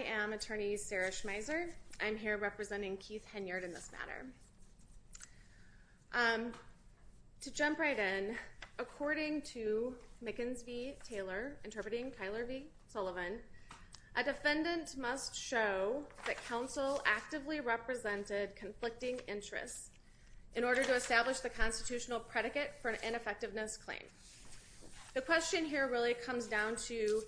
I am Attorney Sarah Schmeiser. I'm here representing Keith Henyard in this matter. To jump right in, according to Mickens v. Taylor interpreting Tyler v. Sullivan, a defendant must show that counsel actively represented conflicting interests in order to establish the constitutional predicate for an ineffectiveness claim. The question here really comes down to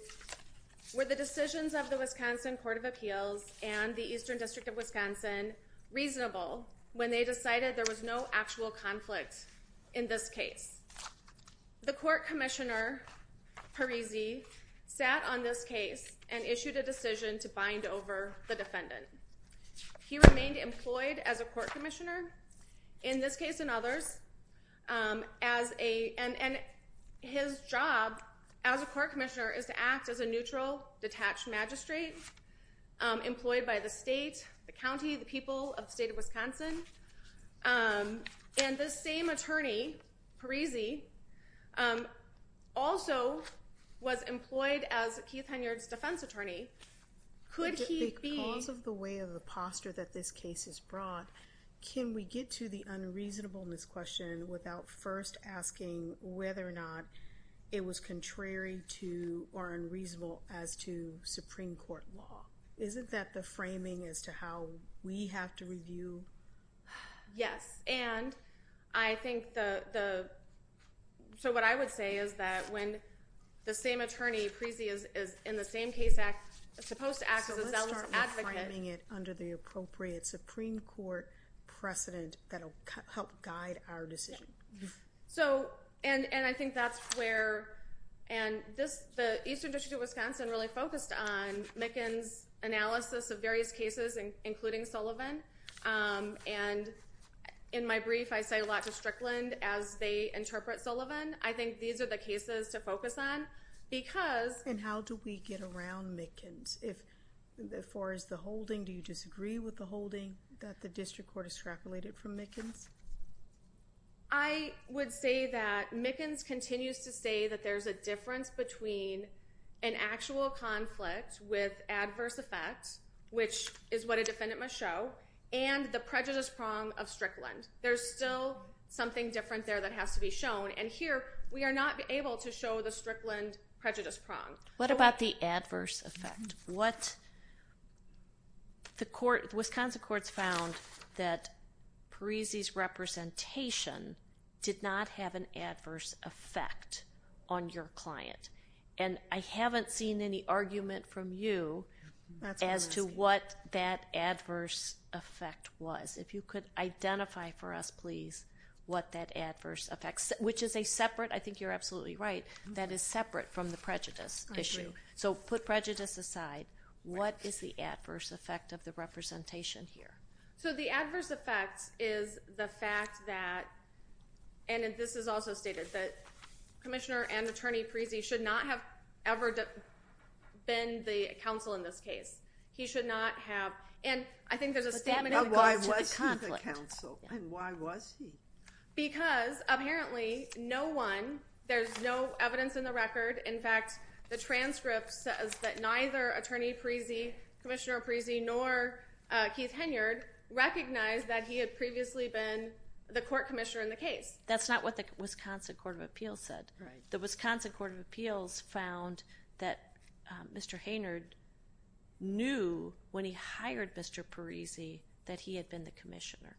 were the decisions of the Wisconsin Court of Appeals and the Eastern District of Wisconsin reasonable when they decided there was no actual conflict in this case? The Court Commissioner Parisi sat on this case and issued a decision to bind over the defendant. He remained employed as a Court Commissioner, in this case and others, and his job as a Court Commissioner is to act as a neutral, detached magistrate employed by the state, the county, the people of the state of Wisconsin. And this same attorney, Parisi, also was employed as Keith Henyard's defense attorney. Could he be- Can we get to the unreasonableness question without first asking whether or not it was contrary to or unreasonable as to Supreme Court law? Isn't that the framing as to how we have to review? Yes, and I think the- so what I would say is that when the same attorney, Parisi, is in the same case act- supposed to act as a self-advocate- And how do we get around Mickens? As far as the holding, do you disagree with the holding that the district court has calculated from Mickens? I would say that Mickens continues to say that there's a difference between an actual conflict with adverse effects, which is what a defendant must show, and the prejudice prong of Strickland. There's still something different there that has to be shown, and here we are not able to show the Strickland prejudice prong. What about the adverse effect? What- the Wisconsin courts found that Parisi's representation did not have an adverse effect on your client, and I haven't seen any argument from you as to what that adverse effect was. If you could identify for us, please, what that adverse effect- which is a separate- I think you're absolutely right- that is separate from the prejudice issue. So put prejudice aside, what is the adverse effect of the representation here? So the adverse effect is the fact that- and this is also stated- that Commissioner and Attorney Parisi should not have ever been the counsel in this case. He should not have- and I think there's a stamina- But why was he the counsel, and why was he? Because, apparently, no one- there's no evidence in the record. In fact, the transcript says that neither Attorney Parisi, Commissioner Parisi, nor Keith Haynard recognized that he had previously been the court commissioner in the case. That's not what the Wisconsin Court of Appeals said. The Wisconsin Court of Appeals found that Mr. Haynard knew when he hired Mr. Parisi that he had been the commissioner.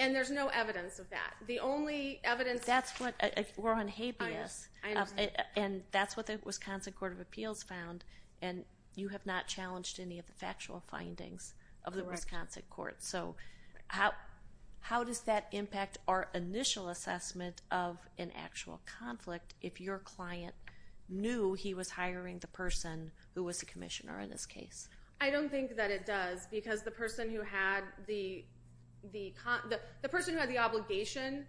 And there's no evidence of that? The only evidence- That's what- we're on habeas. I understand. And that's what the Wisconsin Court of Appeals found, and you have not challenged any of the factual findings of the Wisconsin Court. Correct. So how does that impact our initial assessment of an actual conflict if your client knew he was hiring the person who was the commissioner in this case? I don't think that it does, because the person who had the obligation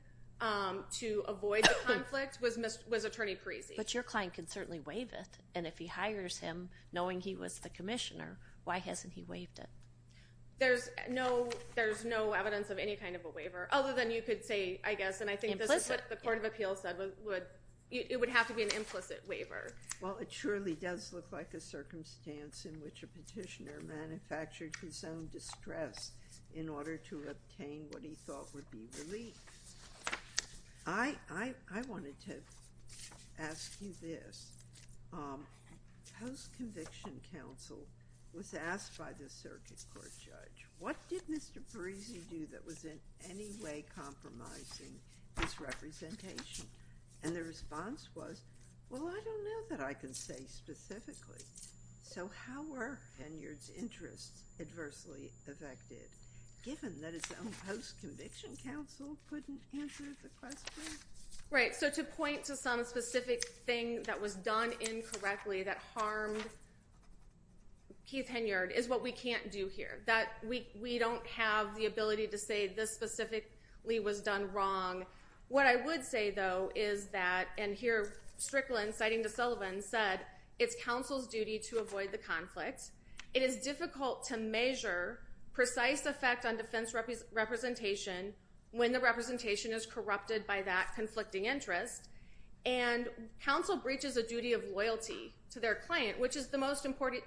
to avoid the conflict was Attorney Parisi. But your client can certainly waive it, and if he hires him knowing he was the commissioner, why hasn't he waived it? There's no evidence of any kind of a waiver, other than you could say, I guess, and I think this is what the Court of Appeals said, it would have to be an implicit waiver. Well, it surely does look like a circumstance in which a petitioner manufactured his own distress in order to obtain what he thought would be relief. I wanted to ask you this. Post-conviction counsel was asked by the circuit court judge, what did Mr. Parisi do that was in any way compromising his representation? And the response was, well, I don't know that I can say specifically. So how were Henyard's interests adversely affected, given that his own post-conviction counsel couldn't answer the question? Right. So to point to some specific thing that was done incorrectly that harmed Keith Henyard is what we can't do here. We don't have the ability to say this specifically was done wrong. What I would say, though, is that, and here Strickland, citing DeSullivan, said, it's counsel's duty to avoid the conflict. It is difficult to measure precise effect on defense representation when the representation is corrupted by that conflicting interest. And counsel breaches a duty of loyalty to their client, which is the most important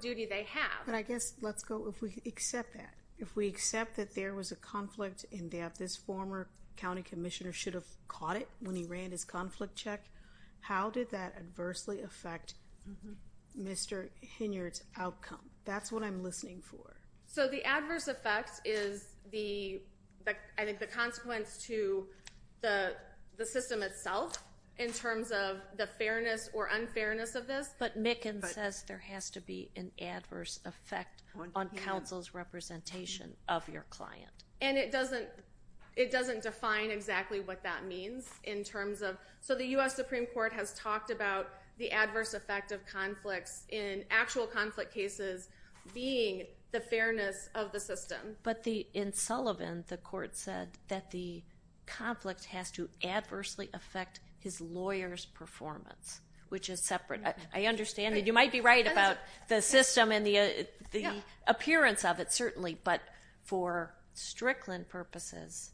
duty they have. But I guess, let's go, if we accept that, if we accept that there was a conflict and that this former county commissioner should have caught it when he ran his conflict check, how did that adversely affect Mr. Henyard's outcome? That's what I'm listening for. So the adverse effect is, I think, the consequence to the system itself, in terms of the fairness or unfairness of this. But Mickens says there has to be an adverse effect on counsel's representation of your client. And it doesn't define exactly what that means in terms of, so the U.S. Supreme Court has talked about the adverse effect of conflicts in actual conflict cases being the fairness of the system. But in Sullivan, the court said that the conflict has to adversely affect his lawyer's performance, which is separate. I understand that you might be right about the system and the appearance of it, certainly, but for Strickland purposes,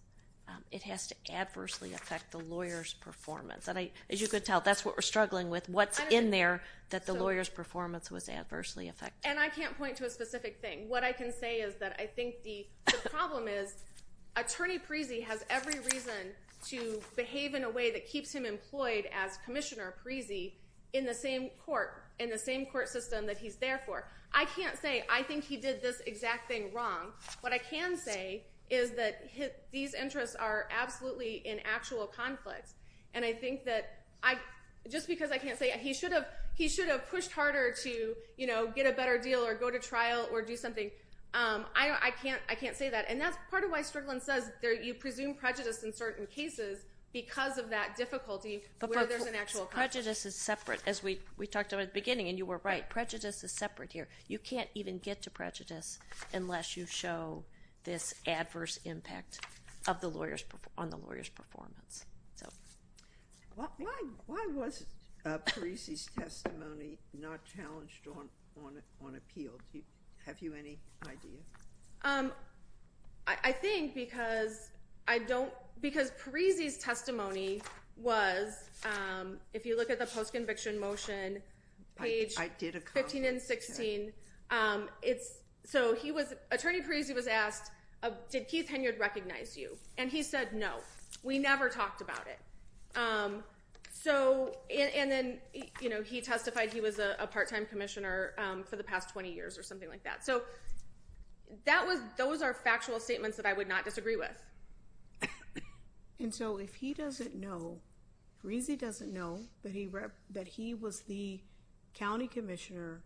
it has to adversely affect the lawyer's performance. As you can tell, that's what we're struggling with, what's in there that the lawyer's performance was adversely affected. And I can't point to a specific thing. What I can say is that I think the problem is Attorney Parisi has every reason to behave in a way that keeps him employed as Commissioner Parisi in the same court system that he's there for. I can't say I think he did this exact thing wrong. What I can say is that these interests are absolutely in actual conflict. And I think that just because I can't say he should have pushed harder to get a better deal or go to trial or do something, I can't say that. And that's part of why Strickland says you presume prejudice in certain cases because of that difficulty where there's an actual conflict. Prejudice is separate, as we talked about at the beginning, and you were right. Prejudice is separate here. You can't even get to prejudice unless you show this adverse impact on the lawyer's performance. Why was Parisi's testimony not challenged on appeal? Have you any idea? I think because Parisi's testimony was, if you look at the post-conviction motion, page 15 and 16, Attorney Parisi was asked, did Keith Hinyard recognize you? And he said no. We never talked about it. And then he testified he was a part-time commissioner for the past 20 years or something like that. So those are factual statements that I would not disagree with. And so if he doesn't know, Parisi doesn't know that he was the county commissioner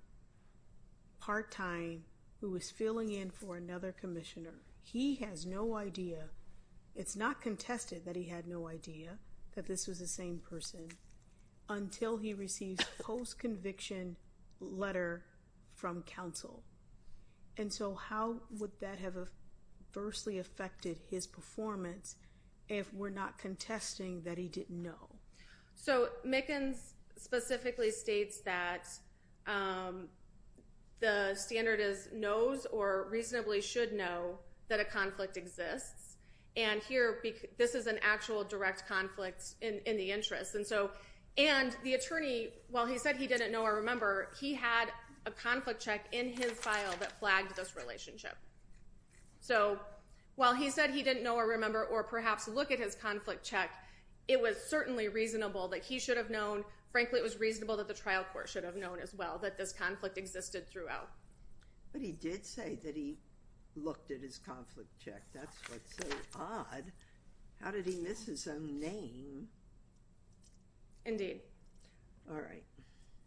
part-time who was filling in for another commissioner, he has no idea, it's not contested that he had no idea that this was the same person until he receives a post-conviction letter from counsel. And so how would that have adversely affected his performance if we're not contesting that he didn't know? So Mickens specifically states that the standard is knows or reasonably should know that a conflict exists. And here, this is an actual direct conflict in the interest. And so, and the attorney, while he said he didn't know or remember, he had a conflict check in his file that flagged this relationship. So while he said he didn't know or remember or perhaps look at his conflict check, it was certainly reasonable that he should have known, frankly, it was reasonable that the trial court should have known as well that this conflict existed throughout. But he did say that he looked at his conflict check. That's what's so odd. How did he miss his own name? Indeed. All right.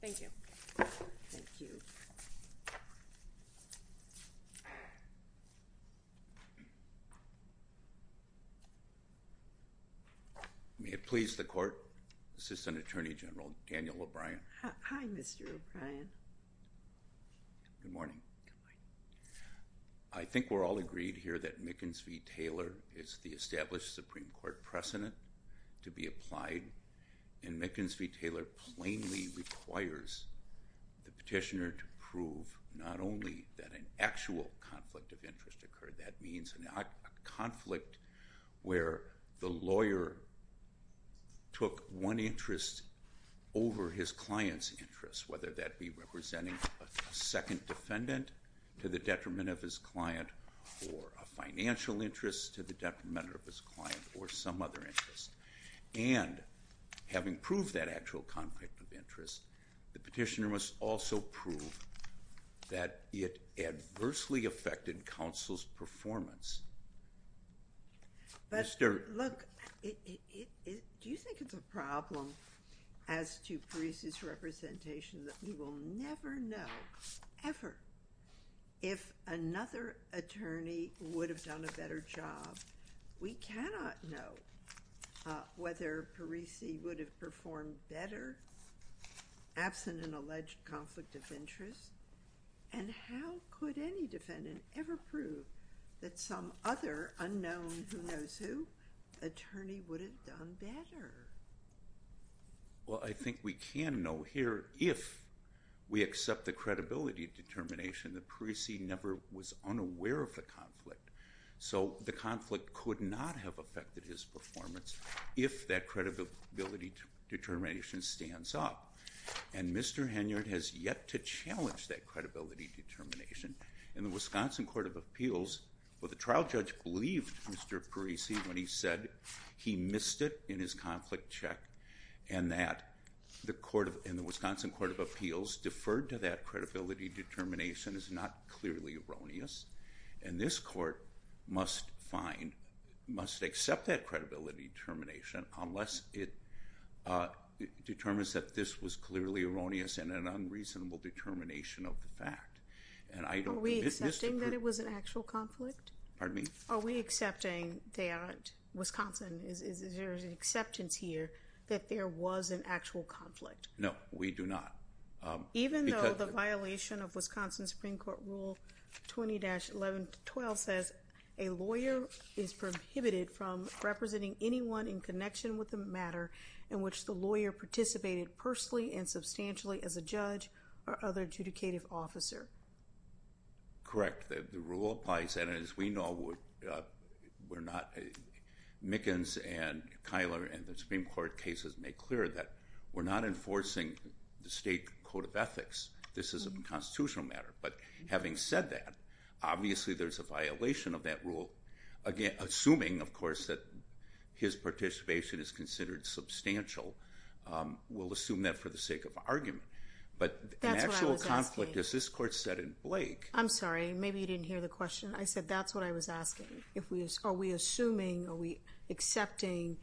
Thank you. Thank you. May it please the court, Assistant Attorney General Daniel O'Brien. Hi, Mr. O'Brien. Good morning. I think we're all agreed here that Mickens v. Taylor is the established Supreme Court precedent to be applied. And Mickens v. Taylor plainly requires the petitioner to prove not only that an actual conflict of interest occurred, that means a conflict where the lawyer took one interest over his client's interest, whether that be representing a second defendant to the detriment of his client or a financial interest to the detriment of his client or some other interest. And having proved that actual conflict of interest, the petitioner must also prove that it adversely affected counsel's performance. But, look, do you think it's a problem as to Parisi's representation that we will never know, ever, if another attorney would have done a better job? We cannot know whether Parisi would have performed better absent an alleged conflict of interest. And how could any defendant ever prove that some other unknown who knows who attorney would have done better? Well, I think we can know here if we accept the credibility determination that Parisi never was unaware of the conflict. So the conflict could not have affected his performance if that credibility determination stands up. And Mr. Henyard has yet to challenge that credibility determination. In the Wisconsin Court of Appeals, the trial judge believed Mr. Parisi when he said he missed it in his conflict check and that the Wisconsin Court of Appeals deferred to that credibility determination is not clearly erroneous. And this court must find, must accept that credibility determination unless it determines that this was clearly erroneous and an unreasonable determination of the fact. Are we accepting that it was an actual conflict? Pardon me? Are we accepting that Wisconsin, is there an acceptance here that there was an actual conflict? No, we do not. Even though the violation of Wisconsin Supreme Court Rule 20-11-12 says, a lawyer is prohibited from representing anyone in connection with the matter in which the lawyer participated personally and substantially as a judge or other adjudicative officer. Correct. The rule applies and as we know, we're not, Mickens and Kyler and the Supreme Court cases make clear that we're not enforcing the state code of ethics. This is a constitutional matter. But having said that, obviously there's a violation of that rule, assuming of course that his participation is considered substantial. We'll assume that for the sake of argument. But an actual conflict, as this court said in Blake. I'm sorry, maybe you didn't hear the question. I said that's what I was asking. Are we assuming, are we accepting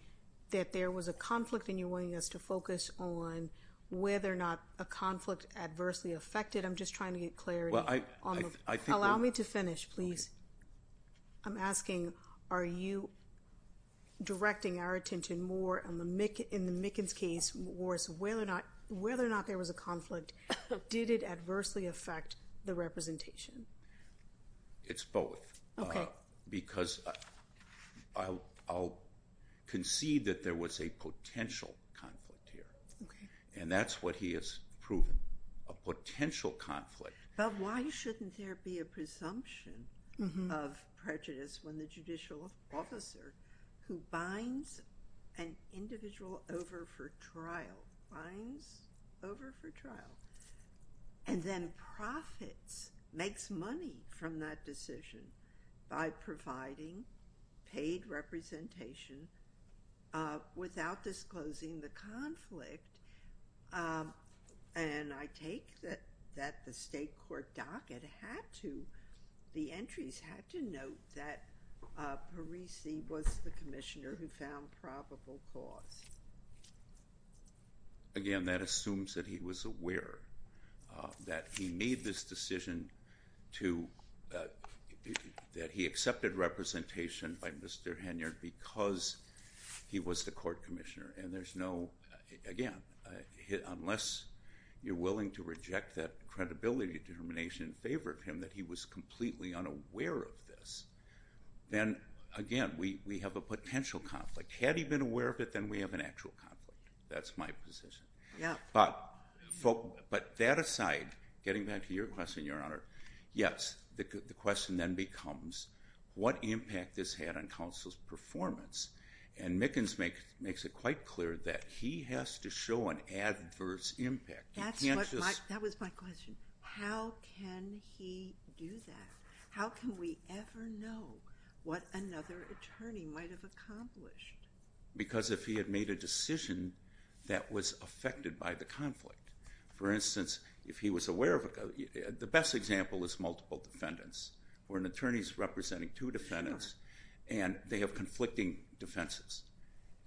that there was a conflict and you're wanting us to focus on whether or not a conflict adversely affected? I'm just trying to get clarity. Allow me to finish, please. I'm asking, are you directing our attention more in the Mickens case, whether or not there was a conflict? Did it adversely affect the representation? It's both. Okay. Because I'll concede that there was a potential conflict here. Okay. And that's what he has proven, a potential conflict. But why shouldn't there be a presumption of prejudice when the judicial officer who binds an individual over for trial, binds over for trial, and then profits, makes money from that decision by providing paid representation without disclosing the conflict? And I take that the state court docket had to, the entries had to note that Parisi was the commissioner who found probable cause. Again, that assumes that he was aware that he made this decision to, that he accepted representation by Mr. Henyard because he was the court commissioner. And there's no, again, unless you're willing to reject that credibility determination in favor of him that he was completely unaware of this, then, again, we have a potential conflict. Had he been aware of it, then we have an actual conflict. That's my position. But that aside, getting back to your question, Your Honor, yes, the question then becomes what impact this had on counsel's performance. And Mickens makes it quite clear that he has to show an adverse impact. That was my question. How can he do that? How can we ever know what another attorney might have accomplished? Because if he had made a decision that was affected by the conflict, for instance, if he was aware of it, the best example is multiple defendants where an attorney is representing two defendants and they have conflicting defenses.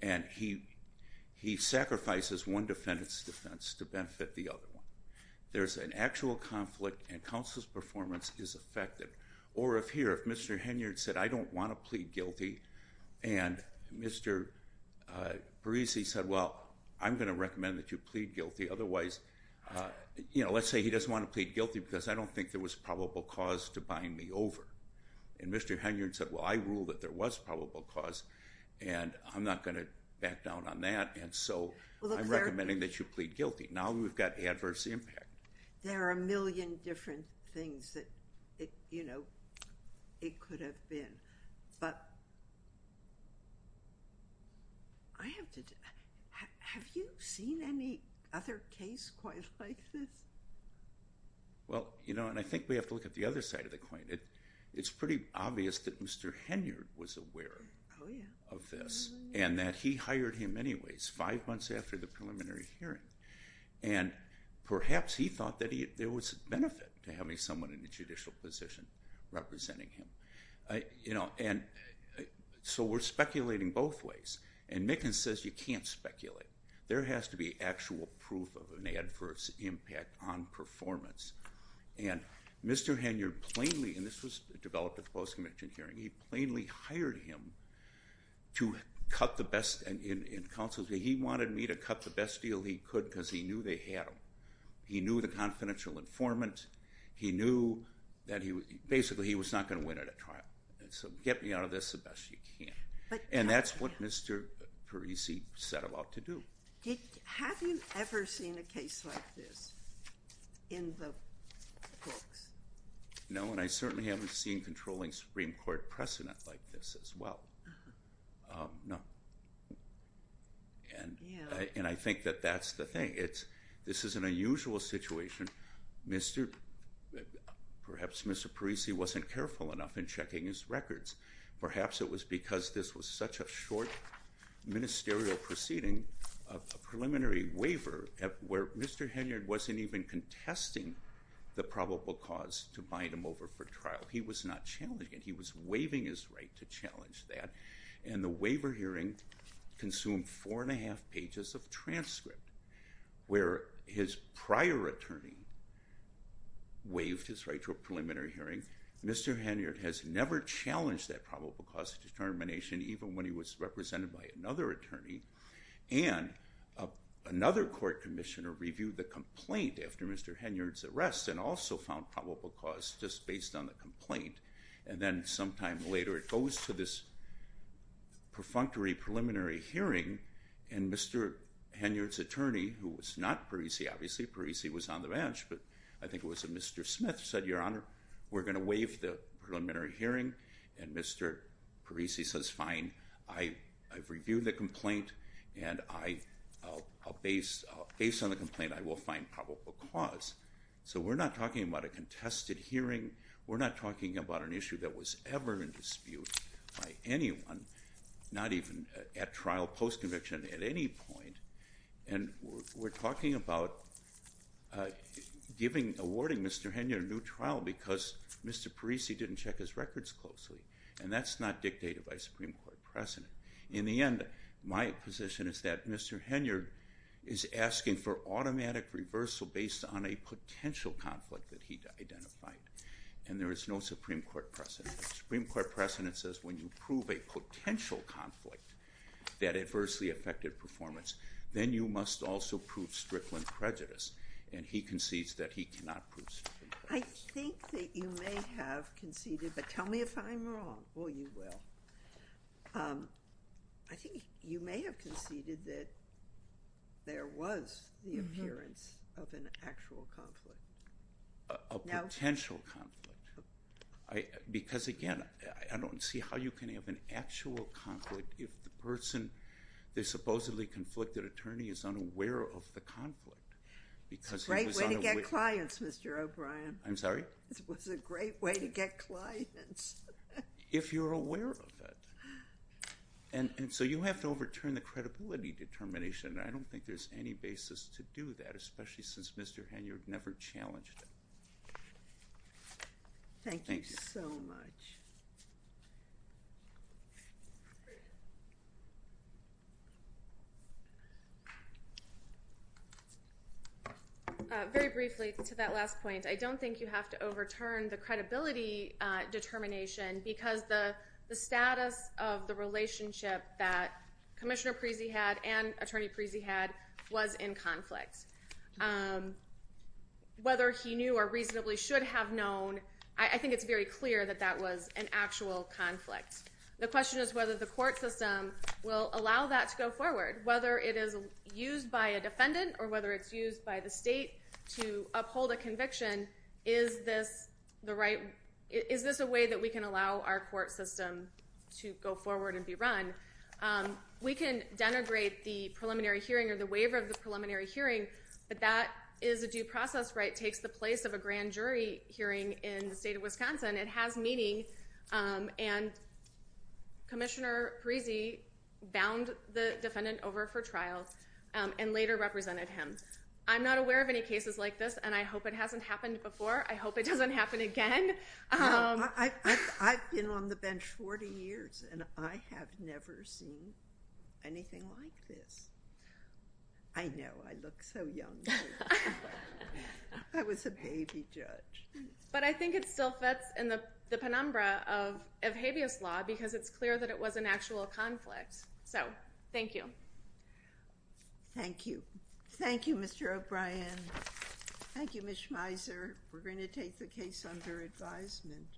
And he sacrifices one defendant's defense to benefit the other one. There's an actual conflict, and counsel's performance is affected. Or if here, if Mr. Henyard said, I don't want to plead guilty, and Mr. Parisi said, well, I'm going to recommend that you plead guilty. Otherwise, you know, let's say he doesn't want to plead guilty because I don't think there was probable cause to buying me over. And Mr. Henyard said, well, I ruled that there was probable cause, and I'm not going to back down on that. And so I'm recommending that you plead guilty. Now we've got adverse impact. There are a million different things that, you know, it could have been. But have you seen any other case quite like this? Well, you know, and I think we have to look at the other side of the coin. It's pretty obvious that Mr. Henyard was aware of this and that he hired him anyways five months after the preliminary hearing. And perhaps he thought that there was benefit to having someone in a judicial position representing him. You know, and so we're speculating both ways. And Mickens says you can't speculate. There has to be actual proof of an adverse impact on performance. And Mr. Henyard plainly, and this was developed at the post-convention hearing, he plainly hired him to cut the best in counsel. He wanted me to cut the best deal he could because he knew they had him. He knew the confidential informant. He knew that basically he was not going to win at a trial. So get me out of this the best you can. And that's what Mr. Parisi set about to do. Have you ever seen a case like this in the books? No, and I certainly haven't seen controlling Supreme Court precedent like this as well. No. And I think that that's the thing. This is an unusual situation. Perhaps Mr. Parisi wasn't careful enough in checking his records. Perhaps it was because this was such a short ministerial proceeding, a preliminary waiver where Mr. Henyard wasn't even contesting the probable cause to bind him over for trial. He was not challenging it. He was waiving his right to challenge that. And the waiver hearing consumed four and a half pages of transcript where his prior attorney waived his right to a preliminary hearing. Mr. Henyard has never challenged that probable cause determination, even when he was represented by another attorney. And another court commissioner reviewed the complaint after Mr. Henyard's arrest and also found probable cause just based on the complaint. And then sometime later it goes to this perfunctory preliminary hearing, and Mr. Henyard's attorney, who was not Parisi, obviously Parisi was on the bench, but I think it was a Mr. Smith, said, Your Honor, we're going to waive the preliminary hearing. And Mr. Parisi says, Fine, I've reviewed the complaint, and based on the complaint I will find probable cause. So we're not talking about a contested hearing. We're not talking about an issue that was ever in dispute by anyone, not even at trial, post-conviction, at any point. And we're talking about awarding Mr. Henyard a new trial because Mr. Parisi didn't check his records closely, and that's not dictated by Supreme Court precedent. In the end, my position is that Mr. Henyard is asking for automatic reversal based on a potential conflict that he identified, and there is no Supreme Court precedent. The Supreme Court precedent says when you prove a potential conflict, that adversely affected performance, then you must also prove strickland prejudice, and he concedes that he cannot prove strickland prejudice. I think that you may have conceded, but tell me if I'm wrong. Oh, you will. I think you may have conceded that there was the appearance of an actual conflict. A potential conflict. Because, again, I don't see how you can have an actual conflict if the person, the supposedly conflicted attorney, is unaware of the conflict. It's a great way to get clients, Mr. O'Brien. I'm sorry? It was a great way to get clients. If you're aware of it. And so you have to overturn the credibility determination, and I don't think there's any basis to do that, especially since Mr. Henyard never challenged it. Thank you so much. Very briefly, to that last point, I don't think you have to overturn the credibility determination because the status of the relationship that Commissioner Preezy had and Attorney Preezy had was in conflict. Whether he knew or reasonably should have known, I think it's very clear that that was an actual conflict. The question is whether the court system will allow that to go forward, whether it is used by a defendant or whether it's used by the state to uphold a conviction, is this a way that we can allow our court system to go forward and be run? We can denigrate the preliminary hearing or the waiver of the preliminary hearing, but that is a due process right. It takes the place of a grand jury hearing in the state of Wisconsin. It has meaning, and Commissioner Preezy bound the defendant over for trial and later represented him. I'm not aware of any cases like this, and I hope it hasn't happened before. I hope it doesn't happen again. I've been on the bench 40 years, and I have never seen anything like this. I know. I look so young. I was a baby judge. But I think it still fits in the penumbra of habeas law because it's clear that it was an actual conflict. So thank you. Thank you. Thank you, Mr. O'Brien. Thank you, Ms. Schmeiser. We're going to take the case under advisement.